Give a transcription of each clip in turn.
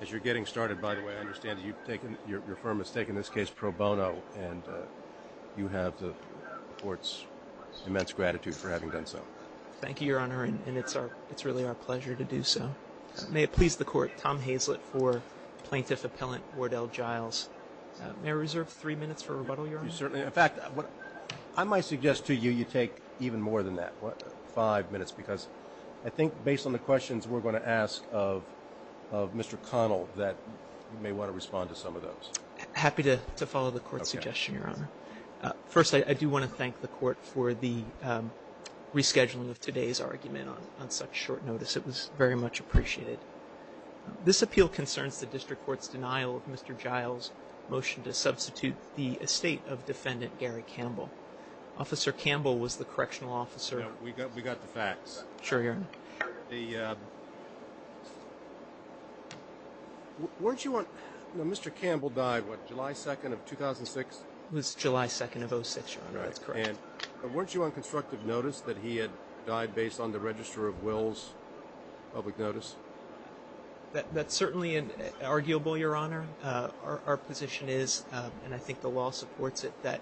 As you're getting started, by the way, I understand your firm has taken this case pro bono, and you have the Court's immense gratitude for having done so. Thank you, Your Honor, and it's really our pleasure to do so. May it please the Court, Tom Hazlett for Plaintiff Appellant Wardell Giles. May I reserve three minutes for rebuttal, Your Honor? Certainly. In fact, I might suggest to you you take even more than that, five minutes, because I think based on the questions we're going to ask of Mr. Connell that you may want to respond to some of those. Happy to follow the Court's suggestion, Your Honor. First, I do want to thank the Court for the rescheduling of today's argument on such short notice. It was very much appreciated. This appeal concerns the District Court's denial of Mr. Giles' motion to substitute the estate of Defendant Gary Campbell. Officer Campbell was the correctional officer. We got the facts. Sure, Your Honor. Sure. Weren't you on – Mr. Campbell died, what, July 2nd of 2006? It was July 2nd of 06, Your Honor. That's correct. Right. And weren't you on constructive notice that he had died based on the Register of Wills public notice? That's certainly arguable, Your Honor. Our position is, and I think the law supports it, that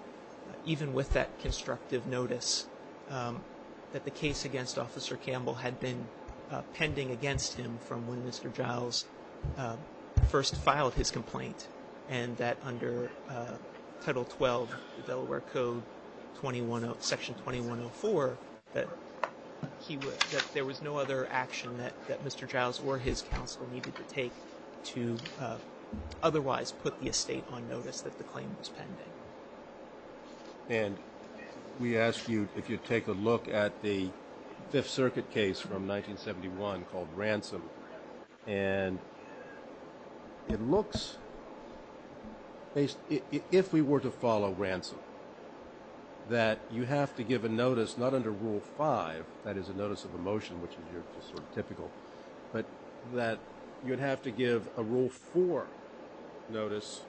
even with that constructive notice, that the case against Officer Campbell had been pending against him from when Mr. Giles first filed his complaint and that under Title 12 of the Delaware Code, Section 2104, that there was no other action that Mr. Giles or his counsel needed to take to otherwise put the estate on notice that the claim was pending. And we asked you if you'd take a look at the Fifth Circuit case from 1971 called Ransom. And it looks – if we were to follow Ransom, that you have to give a notice not under Rule 5, that is a notice of a motion, which is your sort of typical, but that you'd have to give a Rule 4 notice,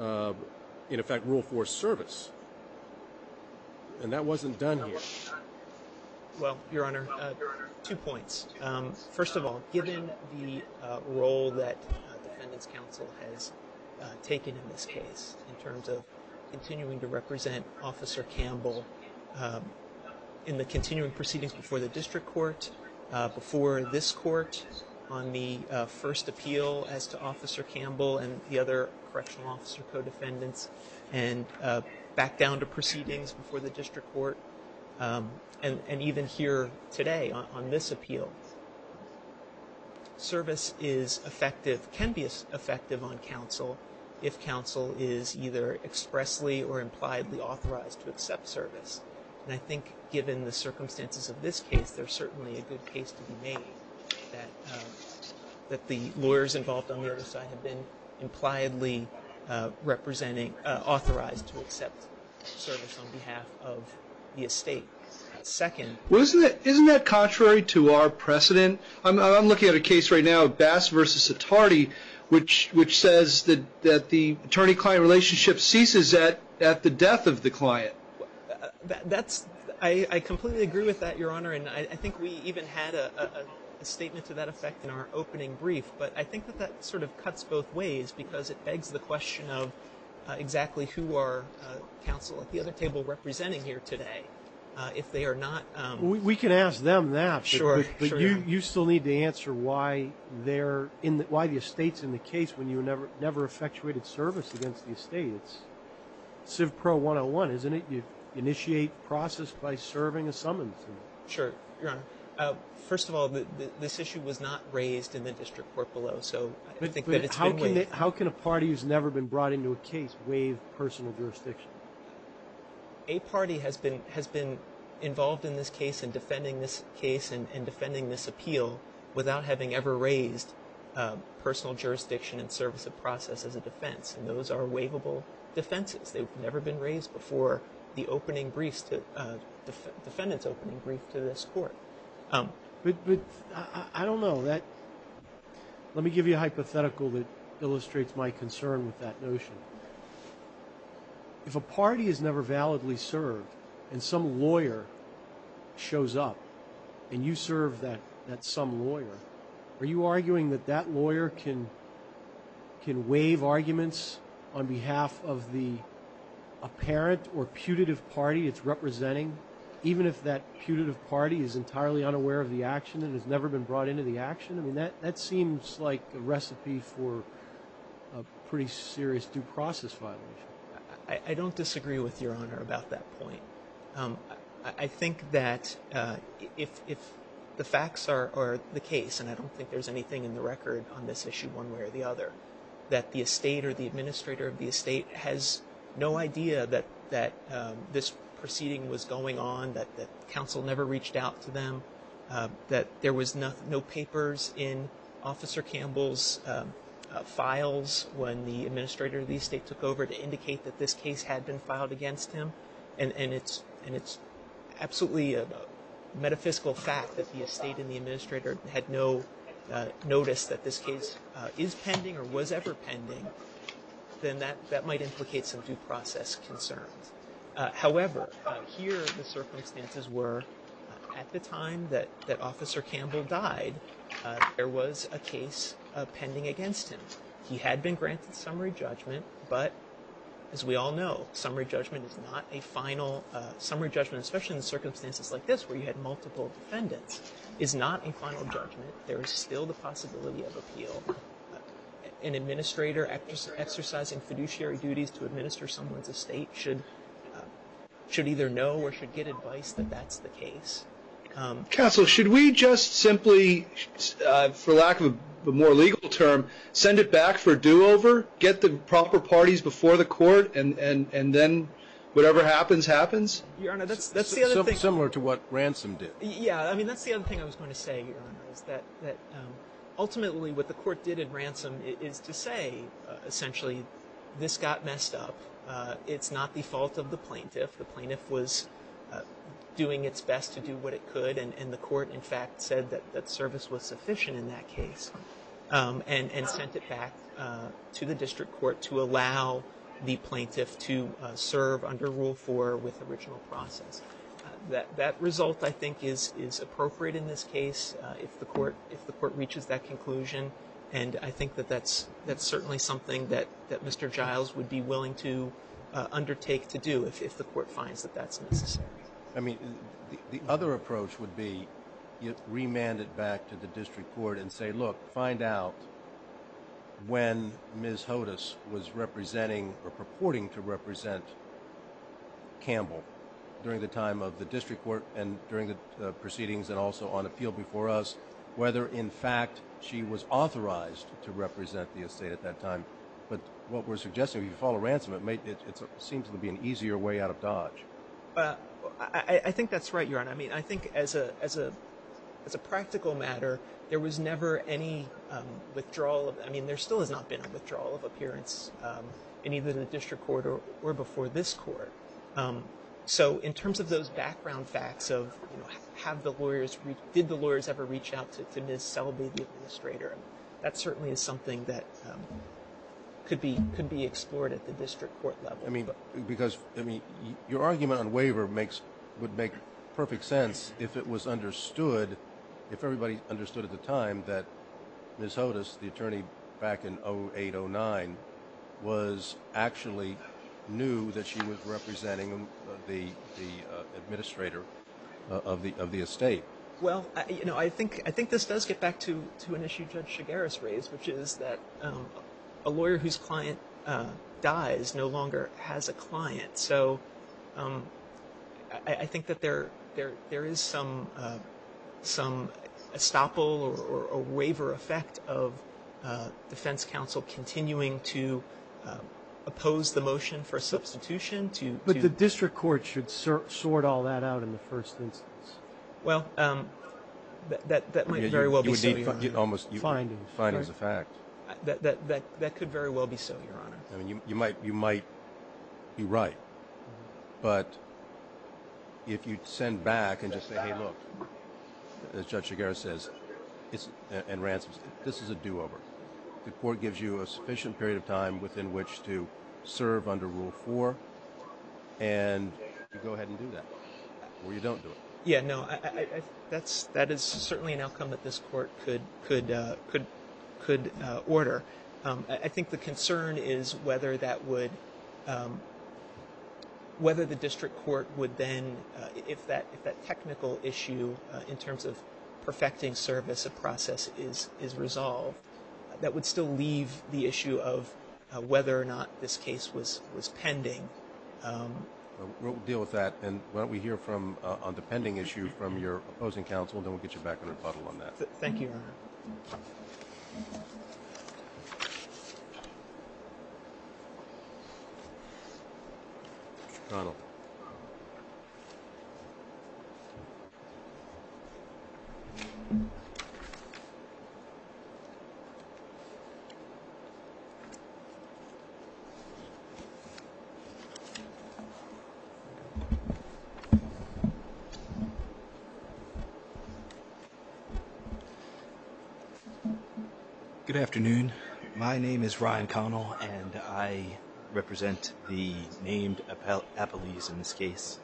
in effect, Rule 4 service. And that wasn't done here. Well, Your Honor, two points. First of all, given the role that defendants' counsel has taken in this case in terms of in the continuing proceedings before the district court, before this court on the first appeal as to Officer Campbell and the other correctional officer co-defendants, and back down to proceedings before the district court, and even here today on this appeal, service is effective – can be effective on counsel if counsel is either expressly or impliedly authorized to accept service. And I think given the circumstances of this case, there's certainly a good case to be made that the lawyers involved on the other side have been impliedly representing – authorized to accept service on behalf of the estate. Second – Well, isn't that contrary to our precedent? I'm looking at a case right now, Bass v. Satardi, which says that the attorney-client relationship ceases at the death of the client. That's – I completely agree with that, Your Honor, and I think we even had a statement to that effect in our opening brief, but I think that that sort of cuts both ways because it begs the question of exactly who are counsel at the other table representing here today if they are not – Well, we can ask them that, but you still need to answer why they're – why the estate's in the case when you never effectuated service against the estate. It's CivPro 101, isn't it? You initiate process by serving a summons. Sure, Your Honor. First of all, this issue was not raised in the district court below, so I think that it's been waived. How can a party who's never been brought into a case waive personal jurisdiction? A party has been involved in this case in defending this case and defending this appeal without having ever raised personal jurisdiction in service of process as a defense, and those are waivable defenses. They've never been raised before the opening briefs to – defendant's opening brief to this court. But I don't know. Let me give you a hypothetical that illustrates my concern with that notion. If a party is never validly served and some lawyer shows up and you serve that some lawyer, are you arguing that that lawyer can waive arguments on behalf of the apparent or putative party it's representing, even if that putative party is entirely unaware of the action and has never been brought into the action? I mean, that seems like a recipe for a pretty serious due process violation. I don't disagree with Your Honor about that point. I think that if the facts are the case, and I don't think there's anything in the record on this issue one way or the other, that the estate or the administrator of the estate has no idea that this proceeding was going on, that counsel never reached out to them, that there was no papers in Officer Campbell's files when the administrator of the estate took over to indicate that this case had been filed against him, and it's absolutely a metaphysical fact that the estate and the administrator had no notice that this case is pending or was ever pending, then that might implicate some due process concerns. However, here the circumstances were, at the time that Officer Campbell died, there was a case pending against him. He had been granted summary judgment, but as we all know, summary judgment is not a final summary judgment, especially in circumstances like this where you had multiple defendants, is not a final judgment. There is still the possibility of appeal. An administrator exercising fiduciary duties to administer someone's estate should either know or should get advice that that's the case. Counsel, should we just simply, for lack of a more legal term, send it back for a do-over, get the proper parties before the court, and then whatever happens, happens? Your Honor, that's the other thing. Something similar to what Ransom did. Yeah, I mean, that's the other thing I was going to say, Your Honor, is that ultimately what the court did in Ransom is to say, essentially, this got messed up. It's not the fault of the plaintiff. The plaintiff was doing its best to do what it could, and the court, in fact, said that service was sufficient in that case, and sent it back to the district court to allow the plaintiff to serve under Rule 4 with original process. That result, I think, is appropriate in this case if the court reaches that conclusion, and I think that that's certainly something that Mr. Giles would be willing to undertake to do if the court finds that that's necessary. I mean, the other approach would be you remand it back to the district court and say, look, find out when Ms. Hodes was representing or purporting to represent Campbell during the time of the district court and during the proceedings and also on the field before us whether, in fact, she was authorized to represent the estate at that time. But what we're suggesting, if you follow Ransom, it seems to be an easier way out of Dodge. I think that's right, Your Honor. I mean, I think as a practical matter, there was never any withdrawal of – I mean, there still has not been a withdrawal of appearance in either the district court or before this court. So in terms of those background facts of, you know, have the lawyers – did the lawyers ever reach out to Ms. Selby, the administrator? That certainly is something that could be explored at the district court level. I mean, because – I mean, your argument on waiver makes – would make perfect sense if it was understood – if everybody understood at the time that Ms. Hodes, the attorney back in 08, 09, was – actually knew that she was representing the administrator of the estate. Well, you know, I think – I think this does get back to an issue Judge Shigaris raised, which is that a lawyer whose client dies no longer has a client. So I think that there – there is some estoppel or a waiver effect of defense counsel continuing to oppose the motion for substitution to – But the district court should sort all that out in the first instance. Well, that might very well be so, Your Honor. You would need – almost – Findings. Findings of fact. That could very well be so, Your Honor. I mean, you might – you might be right. But if you send back and just say, hey, look, as Judge Shigaris says, it's – and Ransom says, this is a do-over. The court gives you a sufficient period of time within which to serve under Rule 4 and you go ahead and do that, or you don't do it. Yeah, no. That's – that is certainly an outcome that this court could – could order. I think the concern is whether that would – whether the district court would then – if that – if that technical issue in terms of perfecting service of process is resolved, that would still leave the issue of whether or not this case was pending. We'll deal with that. And why don't we hear from – on the pending issue from your opposing counsel, and then we'll get you back on the puddle on that. Thank you, Your Honor. Mr. O'Connell. Good afternoon. My name is Ryan Connell, and I represent the named appellees in this case.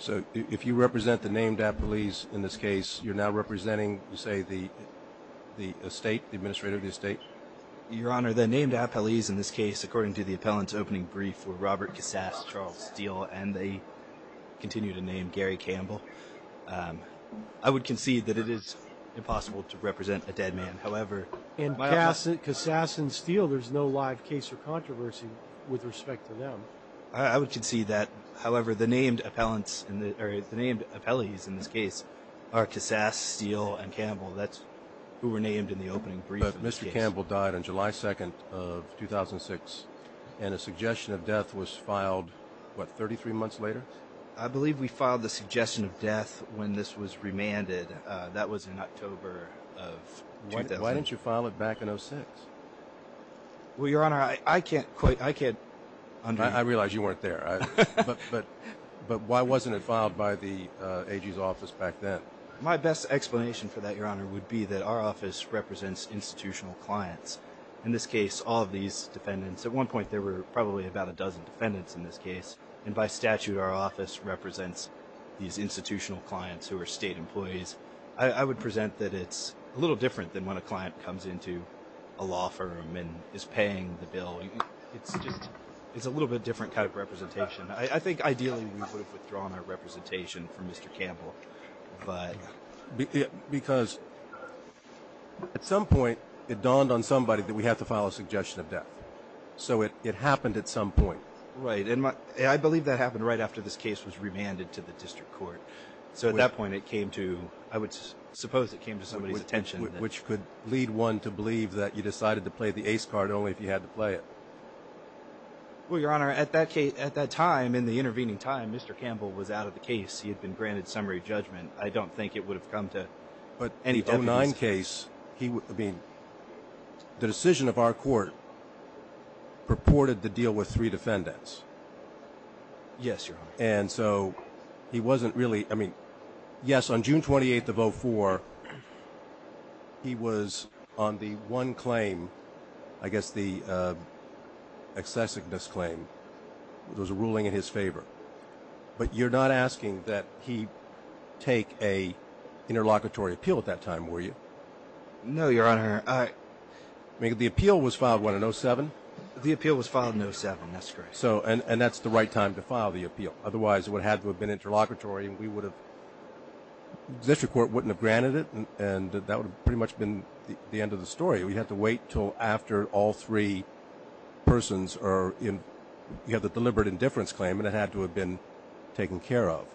So if you represent the named appellees in this case, you're now representing, say, the estate – the administrator of the estate? Your Honor, the named appellees in this case, according to the appellant's opening brief, were Robert Cassas, Charles Steele, and they continue to name Gary Campbell. I would concede that it is impossible to represent a dead man. However – And Cassas and Steele, there's no live case or controversy with respect to them. I would concede that. However, the named appellants – or the named appellees in this case are Cassas, Steele, and Campbell. That's who were named in the opening brief in this case. Gary Campbell died on July 2nd of 2006, and a suggestion of death was filed, what, 33 months later? I believe we filed the suggestion of death when this was remanded. That was in October of 2006. Why didn't you file it back in 2006? Well, Your Honor, I can't quite – I can't – I realize you weren't there. But why wasn't it filed by the AG's office back then? My best explanation for that, Your Honor, would be that our office represents institutional clients. In this case, all of these defendants – at one point, there were probably about a dozen defendants in this case. And by statute, our office represents these institutional clients who are state employees. I would present that it's a little different than when a client comes into a law firm and is paying the bill. It's just – it's a little bit different kind of representation. I think, ideally, we would have withdrawn our representation from Mr. Campbell. Because at some point, it dawned on somebody that we have to file a suggestion of death. So it happened at some point. Right. And I believe that happened right after this case was remanded to the district court. So at that point, it came to – I would suppose it came to somebody's attention. Which could lead one to believe that you decided to play the ace card only if you had to play it. Well, Your Honor, at that time, in the intervening time, Mr. Campbell was out of the case. He had been granted summary judgment. I don't think it would have come to any – But the 09 case, he – I mean, the decision of our court purported to deal with three defendants. Yes, Your Honor. And so he wasn't really – I mean, yes, on June 28th of 04, he was on the one claim – I guess the excessive misclaim. It was a ruling in his favor. But you're not asking that he take an interlocutory appeal at that time, were you? No, Your Honor. I – I mean, the appeal was filed, what, in 07? The appeal was filed in 07. That's correct. So – and that's the right time to file the appeal. Otherwise, it would have to have been interlocutory, and we would have – the district court wouldn't have granted it, and that would have pretty much been the end of the story. We'd have to wait until after all three persons are in – you have the deliberate indifference claim, and it had to have been taken care of.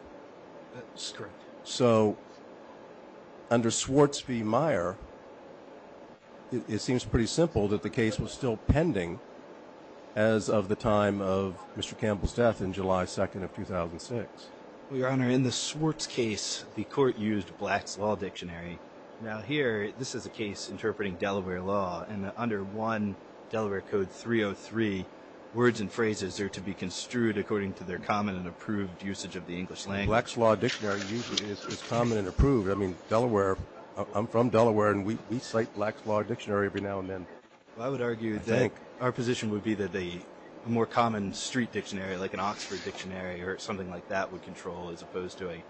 That's correct. So under Swartz v. Meyer, it seems pretty simple that the case was still pending as of the time of Mr. Campbell's death in July 2nd of 2006. Well, Your Honor, in the Swartz case, the court used Black's Law Dictionary. Now, here, this is a case interpreting Delaware law, and under 1 Delaware Code 303, words and phrases are to be construed according to their common and approved usage of the English language. Black's Law Dictionary is common and approved. I mean, Delaware – I'm from Delaware, and we cite Black's Law Dictionary every now and then. I would argue that – I think. Our position would be that a more common street dictionary, like an Oxford Dictionary or something like that, would control, as opposed to a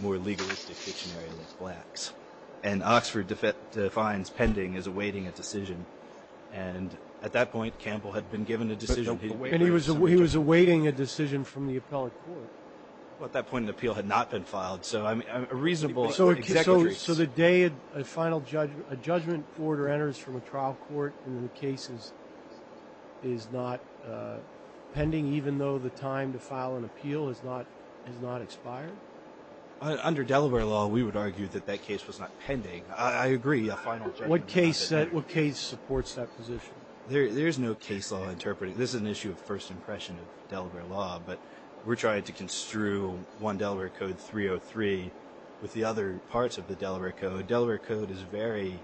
more legalistic dictionary like Black's. And Oxford defines pending as awaiting a decision, and at that point, Campbell had been given a decision. And he was awaiting a decision from the appellate court. At that point, an appeal had not been filed, so a reasonable – So the day a final judgment order enters from a trial court and the case is not pending, even though the time to file an appeal has not expired? Under Delaware law, we would argue that that case was not pending. I agree, a final judgment order – What case supports that position? There's no case law interpreting – this is an issue of first impression of Delaware law, but we're trying to construe 1 Delaware Code 303 with the other parts of the Delaware Code. Delaware Code is very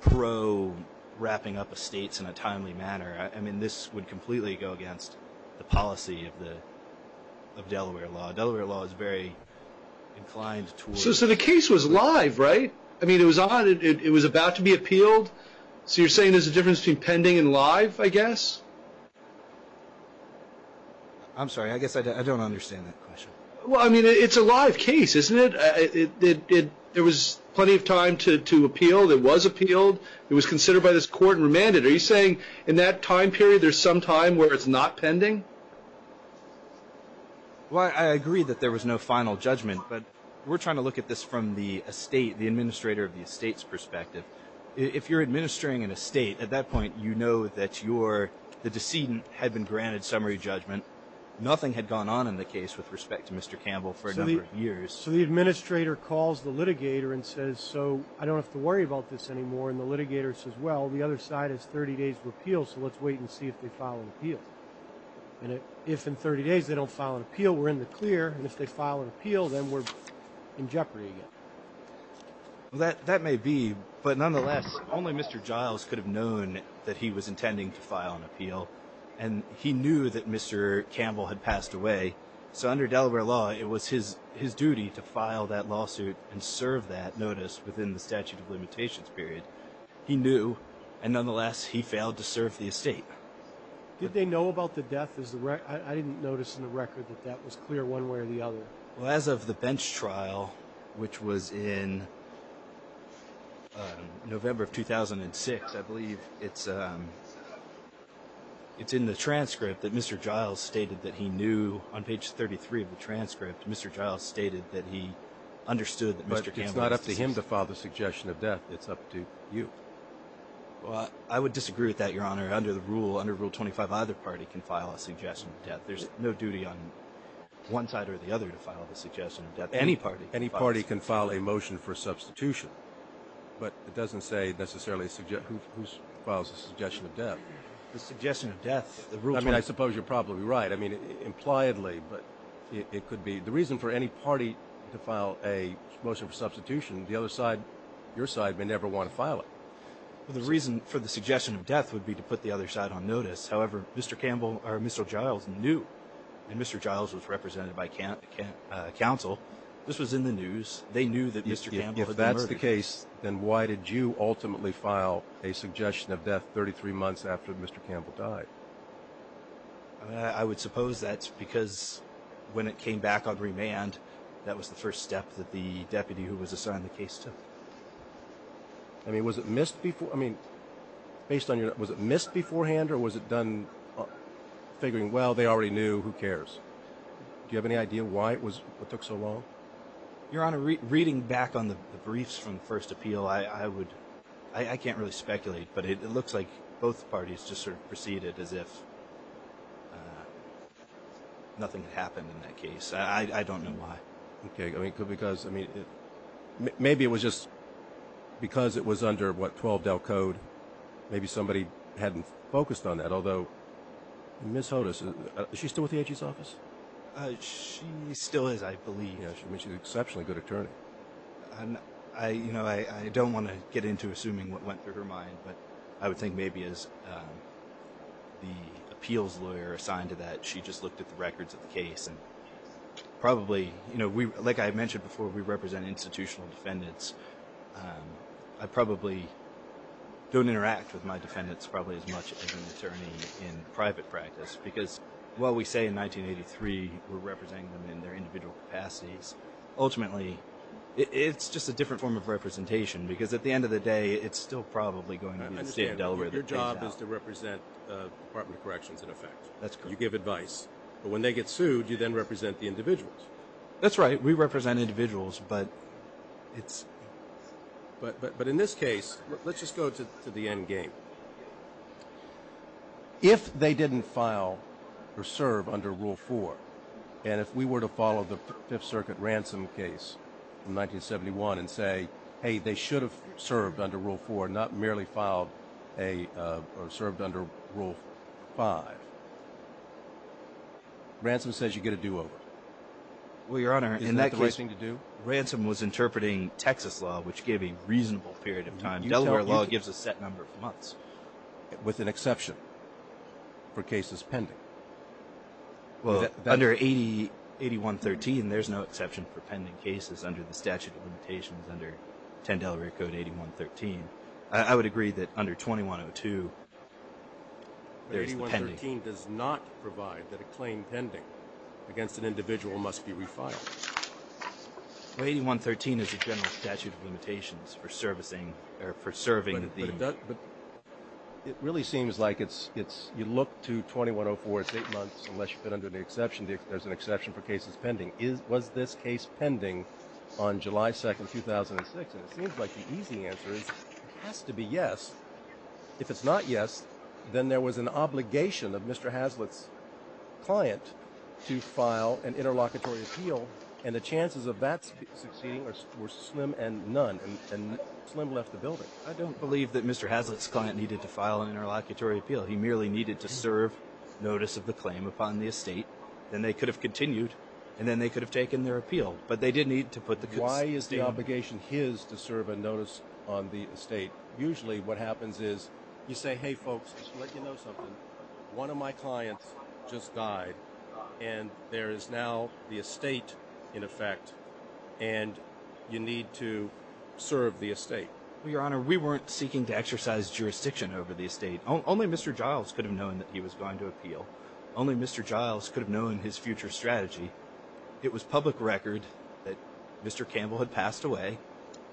pro-wrapping up of states in a timely manner. This would completely go against the policy of Delaware law. Delaware law is very inclined towards – So the case was live, right? It was on, it was about to be appealed, so you're saying there's a difference between pending and live, I guess? I'm sorry, I guess I don't understand that question. It's a live case, isn't it? There was plenty of time to appeal, it was appealed, it was considered by this court and remanded. Are you saying in that time period, there's some time where it's not pending? Well, I agree that there was no final judgment, but we're trying to look at this from the estate, the administrator of the estate's perspective. If you're administering an estate, at that point, you know that your, the decedent had been granted summary judgment. Nothing had gone on in the case with respect to Mr. Campbell for a number of years. So the administrator calls the litigator and says, so I don't have to worry about this anymore. And the litigator says, well, the other side has 30 days to appeal, so let's wait and see if they file an appeal. And if in 30 days they don't file an appeal, we're in the clear. And if they file an appeal, then we're in jeopardy again. That may be, but nonetheless, only Mr. Giles could have known that he was intending to file an appeal, and he knew that Mr. Campbell had passed away. So under Delaware law, it was his duty to file that lawsuit and serve that notice within the statute of limitations period. He knew, and nonetheless, he failed to serve the estate. Did they know about the death? I didn't notice in the record that that was clear one way or the other. Well, as of the bench trial, which was in November of 2006, I believe it's in the transcript that Mr. Giles stated that he knew, on page 33 of the transcript, Mr. Giles stated that he understood that Mr. Campbell was deceased. It's not up to him to file the suggestion of death. It's up to you. I would disagree with that, Your Honor. Under the rule, under Rule 25, either party can file a suggestion of death. There's no duty on one side or the other to file the suggestion of death. Any party. Any party can file a motion for substitution. But it doesn't say necessarily who files the suggestion of death. The suggestion of death. I mean, I suppose you're probably right, I mean, impliedly, but it could be the reason for any party to file a motion for substitution. The other side, your side, may never want to file it. The reason for the suggestion of death would be to put the other side on notice. However, Mr. Giles knew, and Mr. Giles was represented by counsel, this was in the news, they knew that Mr. Campbell had been murdered. If that's the case, then why did you ultimately file a suggestion of death 33 months after Mr. Campbell died? I would suppose that's because when it came back on remand, that was the first step that the deputy who was assigned the case took. I mean, was it missed before, I mean, based on your, was it missed beforehand or was it done figuring, well, they already knew, who cares? Do you have any idea why it was, what took so long? Your Honor, reading back on the briefs from the first appeal, I would, I can't really speculate, but it looks like both parties just sort of proceeded as if nothing had happened in that case. I don't know why. Okay. I mean, because, I mean, maybe it was just because it was under, what, 12 Del Code, maybe somebody hadn't focused on that. Although, Ms. Hodes, is she still with the AG's office? She still is, I believe. Yeah, I mean, she's an exceptionally good attorney. I, you know, I don't want to get into assuming what went through her mind, but I would think maybe as the appeals lawyer assigned to that, she just looked at the records of the case and probably, you know, we, like I mentioned before, we represent institutional defendants. I probably don't interact with my defendants probably as much as an attorney in private practice, because while we say in 1983 we're representing them in their individual capacities, ultimately, it's just a different form of representation, because at the end of the day, it's still probably going to be the state of Delaware that pays out. I understand. But your job is to represent the Department of Corrections, in effect. That's correct. You give advice. But when they get sued, you then represent the individuals. That's right. We represent individuals, but it's... But in this case, let's just go to the end game. If they didn't file or serve under Rule 4, and if we were to follow the Fifth Circuit Ransom case from 1971 and say, hey, they should have served under Rule 4, not merely filed a or served under Rule 5, Ransom says you get a do-over. Well, Your Honor, in that case, Ransom was interpreting Texas law, which gave a reasonable period of time. In Delaware law, it gives a set number of months, with an exception for cases pending. Under 8113, there's no exception for pending cases under the statute of limitations under 10 Delaware Code 8113. I would agree that under 2102, there's the pending. But 8113 does not provide that a claim pending against an individual must be refiled. Well, 8113 is a general statute of limitations for servicing or for serving the... It really seems like it's... You look to 2104, it's eight months, unless you've been under the exception, there's an exception for cases pending. Was this case pending on July 2nd, 2006? And it seems like the easy answer is it has to be yes. If it's not yes, then there was an obligation of Mr. Hazlitt's client to file an interlocutory appeal, and the chances of that succeeding were slim and none, and slim left the building. I don't believe that Mr. Hazlitt's client needed to file an interlocutory appeal. He merely needed to serve notice of the claim upon the estate, then they could have continued, and then they could have taken their appeal. But they did need to put the... Why is the obligation his to serve a notice on the estate? Usually what happens is you say, hey folks, just to let you know something, one of my file the estate, in effect, and you need to serve the estate. Well, Your Honor, we weren't seeking to exercise jurisdiction over the estate. Only Mr. Giles could have known that he was going to appeal. Only Mr. Giles could have known his future strategy. It was public record that Mr. Campbell had passed away.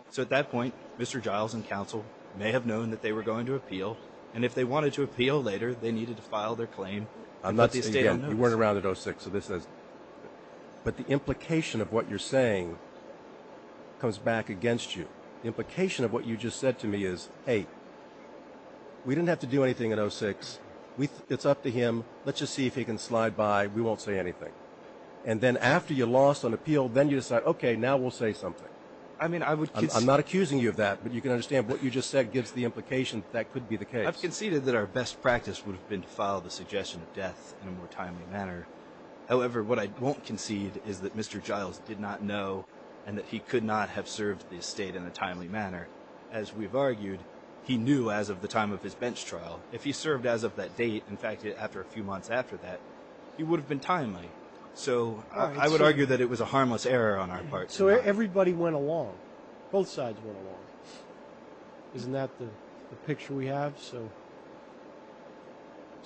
So at that point, Mr. Giles and counsel may have known that they were going to appeal, and if they wanted to appeal later, they needed to file their claim and put the estate on notice. You weren't around at 06, so this is... But the implication of what you're saying comes back against you. The implication of what you just said to me is, hey, we didn't have to do anything at 06, it's up to him, let's just see if he can slide by, we won't say anything. And then after you lost an appeal, then you decide, okay, now we'll say something. I mean, I would... I'm not accusing you of that, but you can understand what you just said gives the implication that could be the case. I've conceded that our best practice would have been to file the suggestion of death in a more timely manner. However, what I won't concede is that Mr. Giles did not know and that he could not have served the estate in a timely manner. As we've argued, he knew as of the time of his bench trial. If he served as of that date, in fact, after a few months after that, he would have been timely. So I would argue that it was a harmless error on our part. So everybody went along, both sides went along. Isn't that the picture we have? So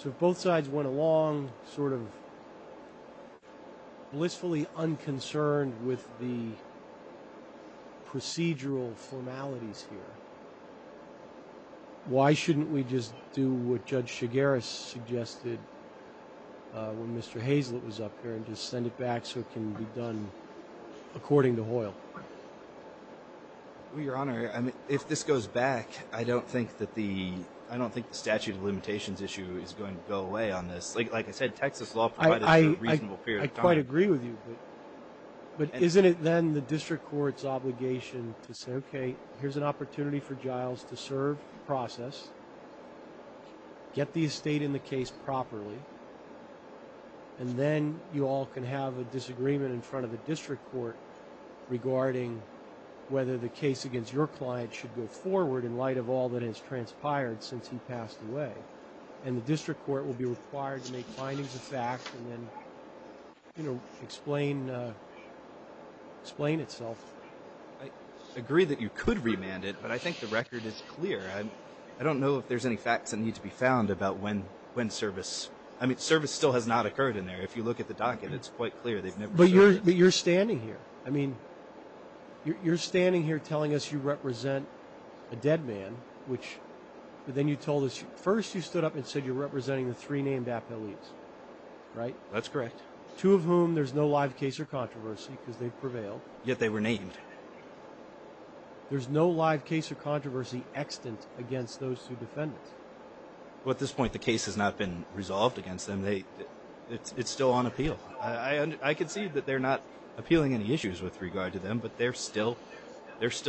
if both sides went along, sort of blissfully unconcerned with the procedural formalities here, why shouldn't we just do what Judge Chigueras suggested when Mr. Hazlett was up here and just send it back so it can be done according to Hoyle? Well, Your Honor, if this goes back, I don't think the statute of limitations issue is going to go away on this. Like I said, Texas law provides a reasonable period of time. I quite agree with you, but isn't it then the district court's obligation to say, okay, here's an opportunity for Giles to serve the process, get the estate in the case properly, and then you all can have a disagreement in front of the district court regarding whether the case against your client should go forward in light of all that has transpired since he passed away. And the district court will be required to make findings of fact and then explain itself. I agree that you could remand it, but I think the record is clear. I don't know if there's any facts that need to be found about when service, I mean, service still has not occurred in there. If you look at the docket, it's quite clear they've never served it. But you're standing here. I mean, you're standing here telling us you represent a dead man, which, but then you told us, first you stood up and said you're representing the three named appellees, right? That's correct. Two of whom there's no live case or controversy because they've prevailed. Yet they were named. There's no live case or controversy extant against those two defendants. At this point, the case has not been resolved against them. It's still on appeal. I can see that they're not appealing any issues with regard to them, but they're still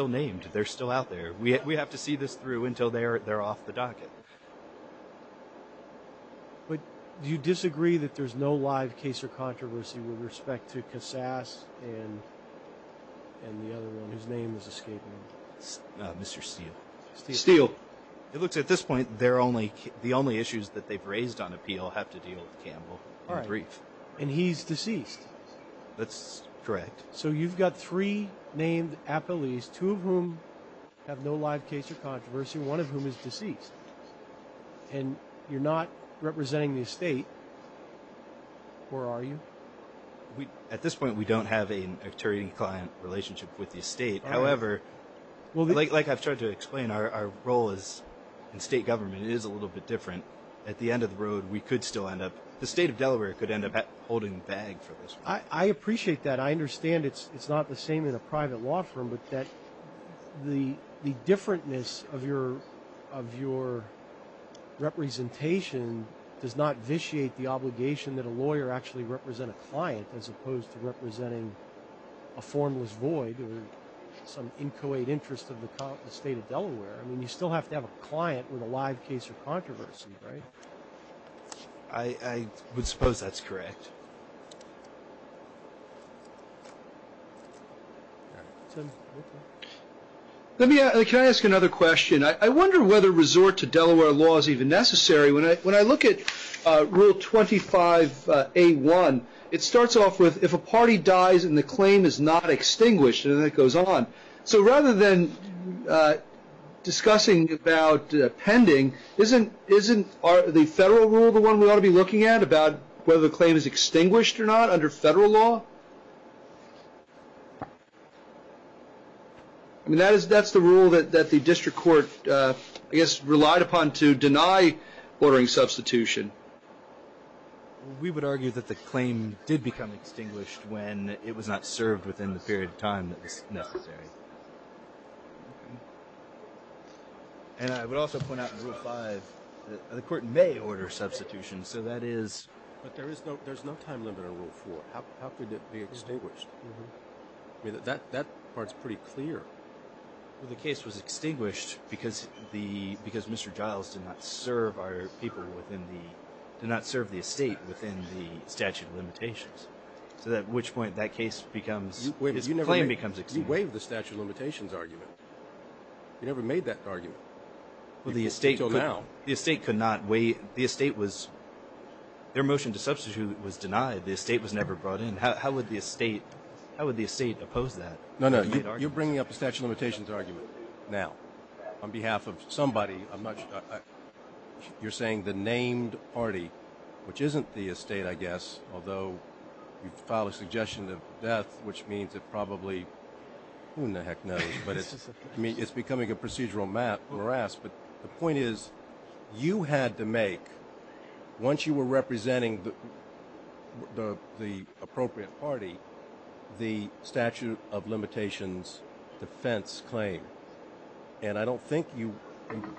named. They're still out there. We have to see this through until they're off the docket. But do you disagree that there's no live case or controversy with respect to Cassas and the other one whose name is escaping me? Mr. Steele. Steele. It looks at this point, the only issues that they've raised on appeal have to deal with Campbell. All right. In brief. And he's deceased. That's correct. So you've got three named appellees, two of whom have no live case or controversy, one of whom is deceased, and you're not representing the estate, or are you? At this point, we don't have an attorney-client relationship with the estate. However, like I've tried to explain, our role in state government is a little bit different. At the end of the road, we could still end up, the state of Delaware could end up holding the bag for this. I appreciate that. And I understand it's not the same in a private law firm, but that the differentness of your representation does not vitiate the obligation that a lawyer actually represent a client as opposed to representing a formless void or some inchoate interest of the state of Delaware. I mean, you still have to have a client with a live case or controversy, right? I would suppose that's correct. Can I ask another question? I wonder whether resort to Delaware law is even necessary. When I look at Rule 25A1, it starts off with, if a party dies and the claim is not extinguished, and then it goes on. So rather than discussing about pending, isn't the federal rule the one we ought to be looking at about whether the claim is extinguished or not under federal law? I mean, that's the rule that the district court, I guess, relied upon to deny ordering substitution. We would argue that the claim did become extinguished when it was not served within the period of time that was necessary. And I would also point out in Rule 5, the court may order substitution. But there's no time limit on Rule 4. How could it be extinguished? I mean, that part's pretty clear. Well, the case was extinguished because Mr. Giles did not serve the estate within the statute of limitations. So at which point that case becomes, his claim becomes extinguished. He waived the statute of limitations argument. He never made that argument. Well, the estate could not waive. The estate was, their motion to substitute was denied. The estate was never brought in. How would the estate oppose that? No, no, you're bringing up the statute of limitations argument now. On behalf of somebody, you're saying the named party, which isn't the estate, I guess, although you filed a suggestion of death, which means it probably, who in the heck knows. I mean, it's becoming a procedural map, morass. But the point is, you had to make, once you were representing the appropriate party, the statute of limitations defense claim. And I don't think you,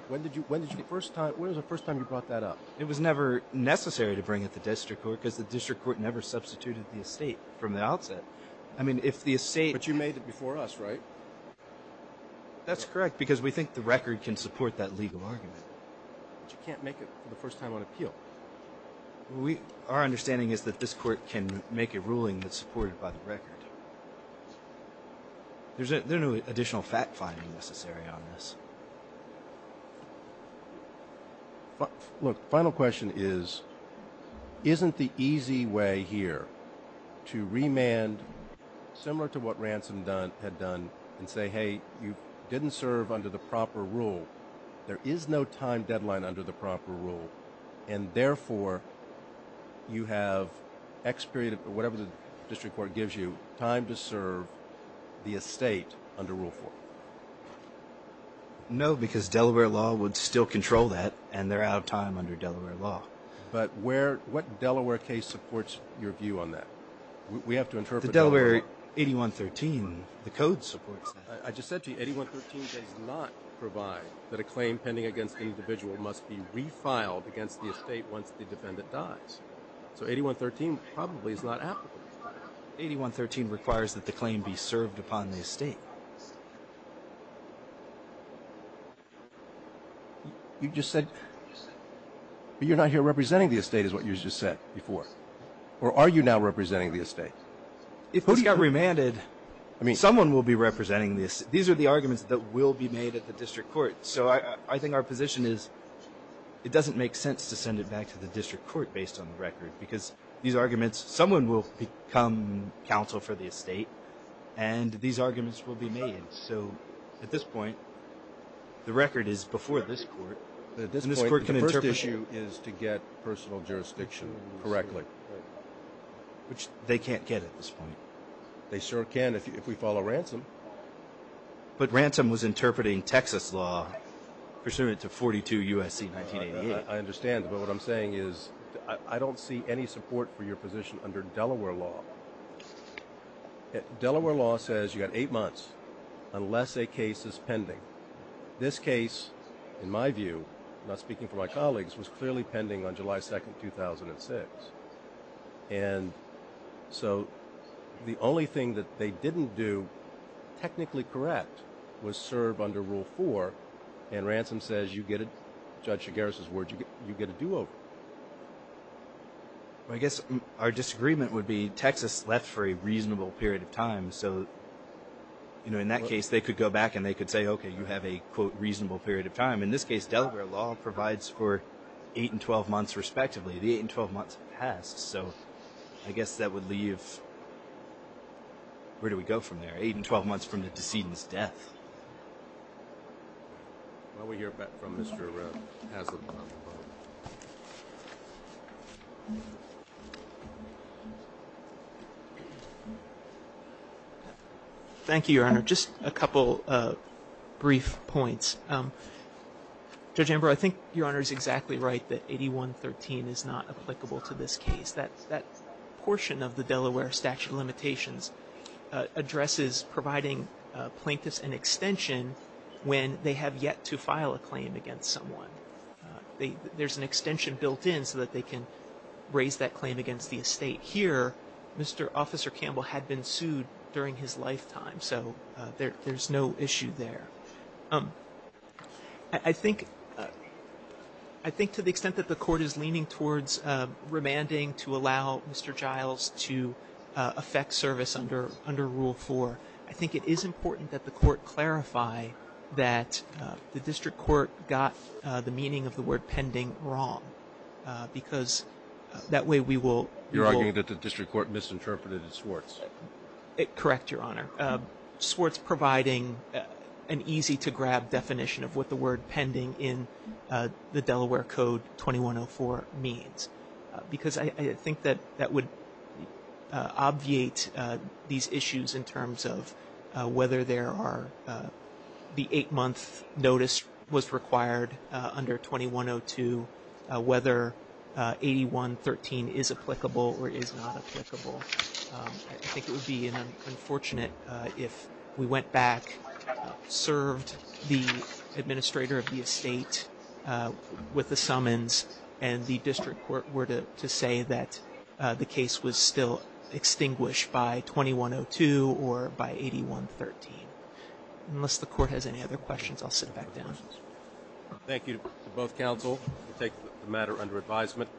when did you first time, when was the first time you brought that up? It was never necessary to bring it to district court because the district court never substituted the estate from the outset. I mean, if the estate. But you made it before us, right? That's correct, because we think the record can support that legal argument. But you can't make it for the first time on appeal. Our understanding is that this court can make a ruling that's supported by the record. There's no additional fact-finding necessary on this. Look, the final question is, isn't the easy way here to remand, similar to what Ransom had done, and say, hey, you didn't serve under the proper rule. There is no time deadline under the proper rule. And therefore, you have X period, whatever the district court gives you, time to serve the estate under Rule 4. No, because Delaware law would still control that, and they're out of time under Delaware law. But what Delaware case supports your view on that? We have to interpret Delaware. The Delaware 8113, the code supports that. I just said to you, 8113 does not provide that a claim pending against an individual must be refiled against the estate once the defendant dies. So 8113 probably is not applicable. 8113 requires that the claim be served upon the estate. You just said you're not here representing the estate is what you just said before. Or are you now representing the estate? If this got remanded. Someone will be representing the estate. These are the arguments that will be made at the district court. So I think our position is it doesn't make sense to send it back to the district court based on the record, because these arguments, someone will become counsel for the estate, and these arguments will be made. So at this point, the record is before this court. At this point, the first issue is to get personal jurisdiction correctly. Which they can't get at this point. They sure can if we follow Ransom. But Ransom was interpreting Texas law pursuant to 42 U.S.C. 1988. I understand, but what I'm saying is I don't see any support for your position under Delaware law. Delaware law says you've got eight months unless a case is pending. This case, in my view, not speaking for my colleagues, was clearly pending on July 2, 2006. And so the only thing that they didn't do technically correct was serve under Rule 4, and Ransom says you get it, Judge Chigares' word, you get a do-over. I guess our disagreement would be Texas left for a reasonable period of time. So in that case, they could go back and they could say, okay, you have a quote reasonable period of time. In this case, Delaware law provides for eight and 12 months respectively. The eight and 12 months have passed, so I guess that would leave ‑‑ where do we go from there? Eight and 12 months from the decedent's death. Why don't we hear back from Mr. Haslund on the phone. Thank you, Your Honor. Just a couple brief points. Judge Amber, I think Your Honor is exactly right that 8113 is not applicable to this case. That portion of the Delaware statute of limitations addresses providing plaintiffs an extension when they have yet to file a claim against someone. There's an extension built in so that they can raise that claim against the estate. Here, Mr. Officer Campbell had been sued during his lifetime, so there's no issue there. I think to the extent that the court is leaning towards remanding to allow Mr. Giles to affect service under Rule 4, I think it is important that the court clarify that the district court got the meaning of the word pending wrong because that way we will ‑‑ You're arguing that the district court misinterpreted it as Swartz. Correct, Your Honor. Swartz providing an easy to grab definition of what the word pending in the Delaware Code 2104 means. Because I think that that would obviate these issues in terms of whether there are the eight‑month notice was required under 2102, whether 8113 is applicable or is not applicable. I think it would be unfortunate if we went back, served the administrator of the estate with the summons, and the district court were to say that the case was still extinguished by 2102 or by 8113. Unless the court has any other questions, I'll sit it back down. Thank you to both counsel. We'll take the matter under advisement.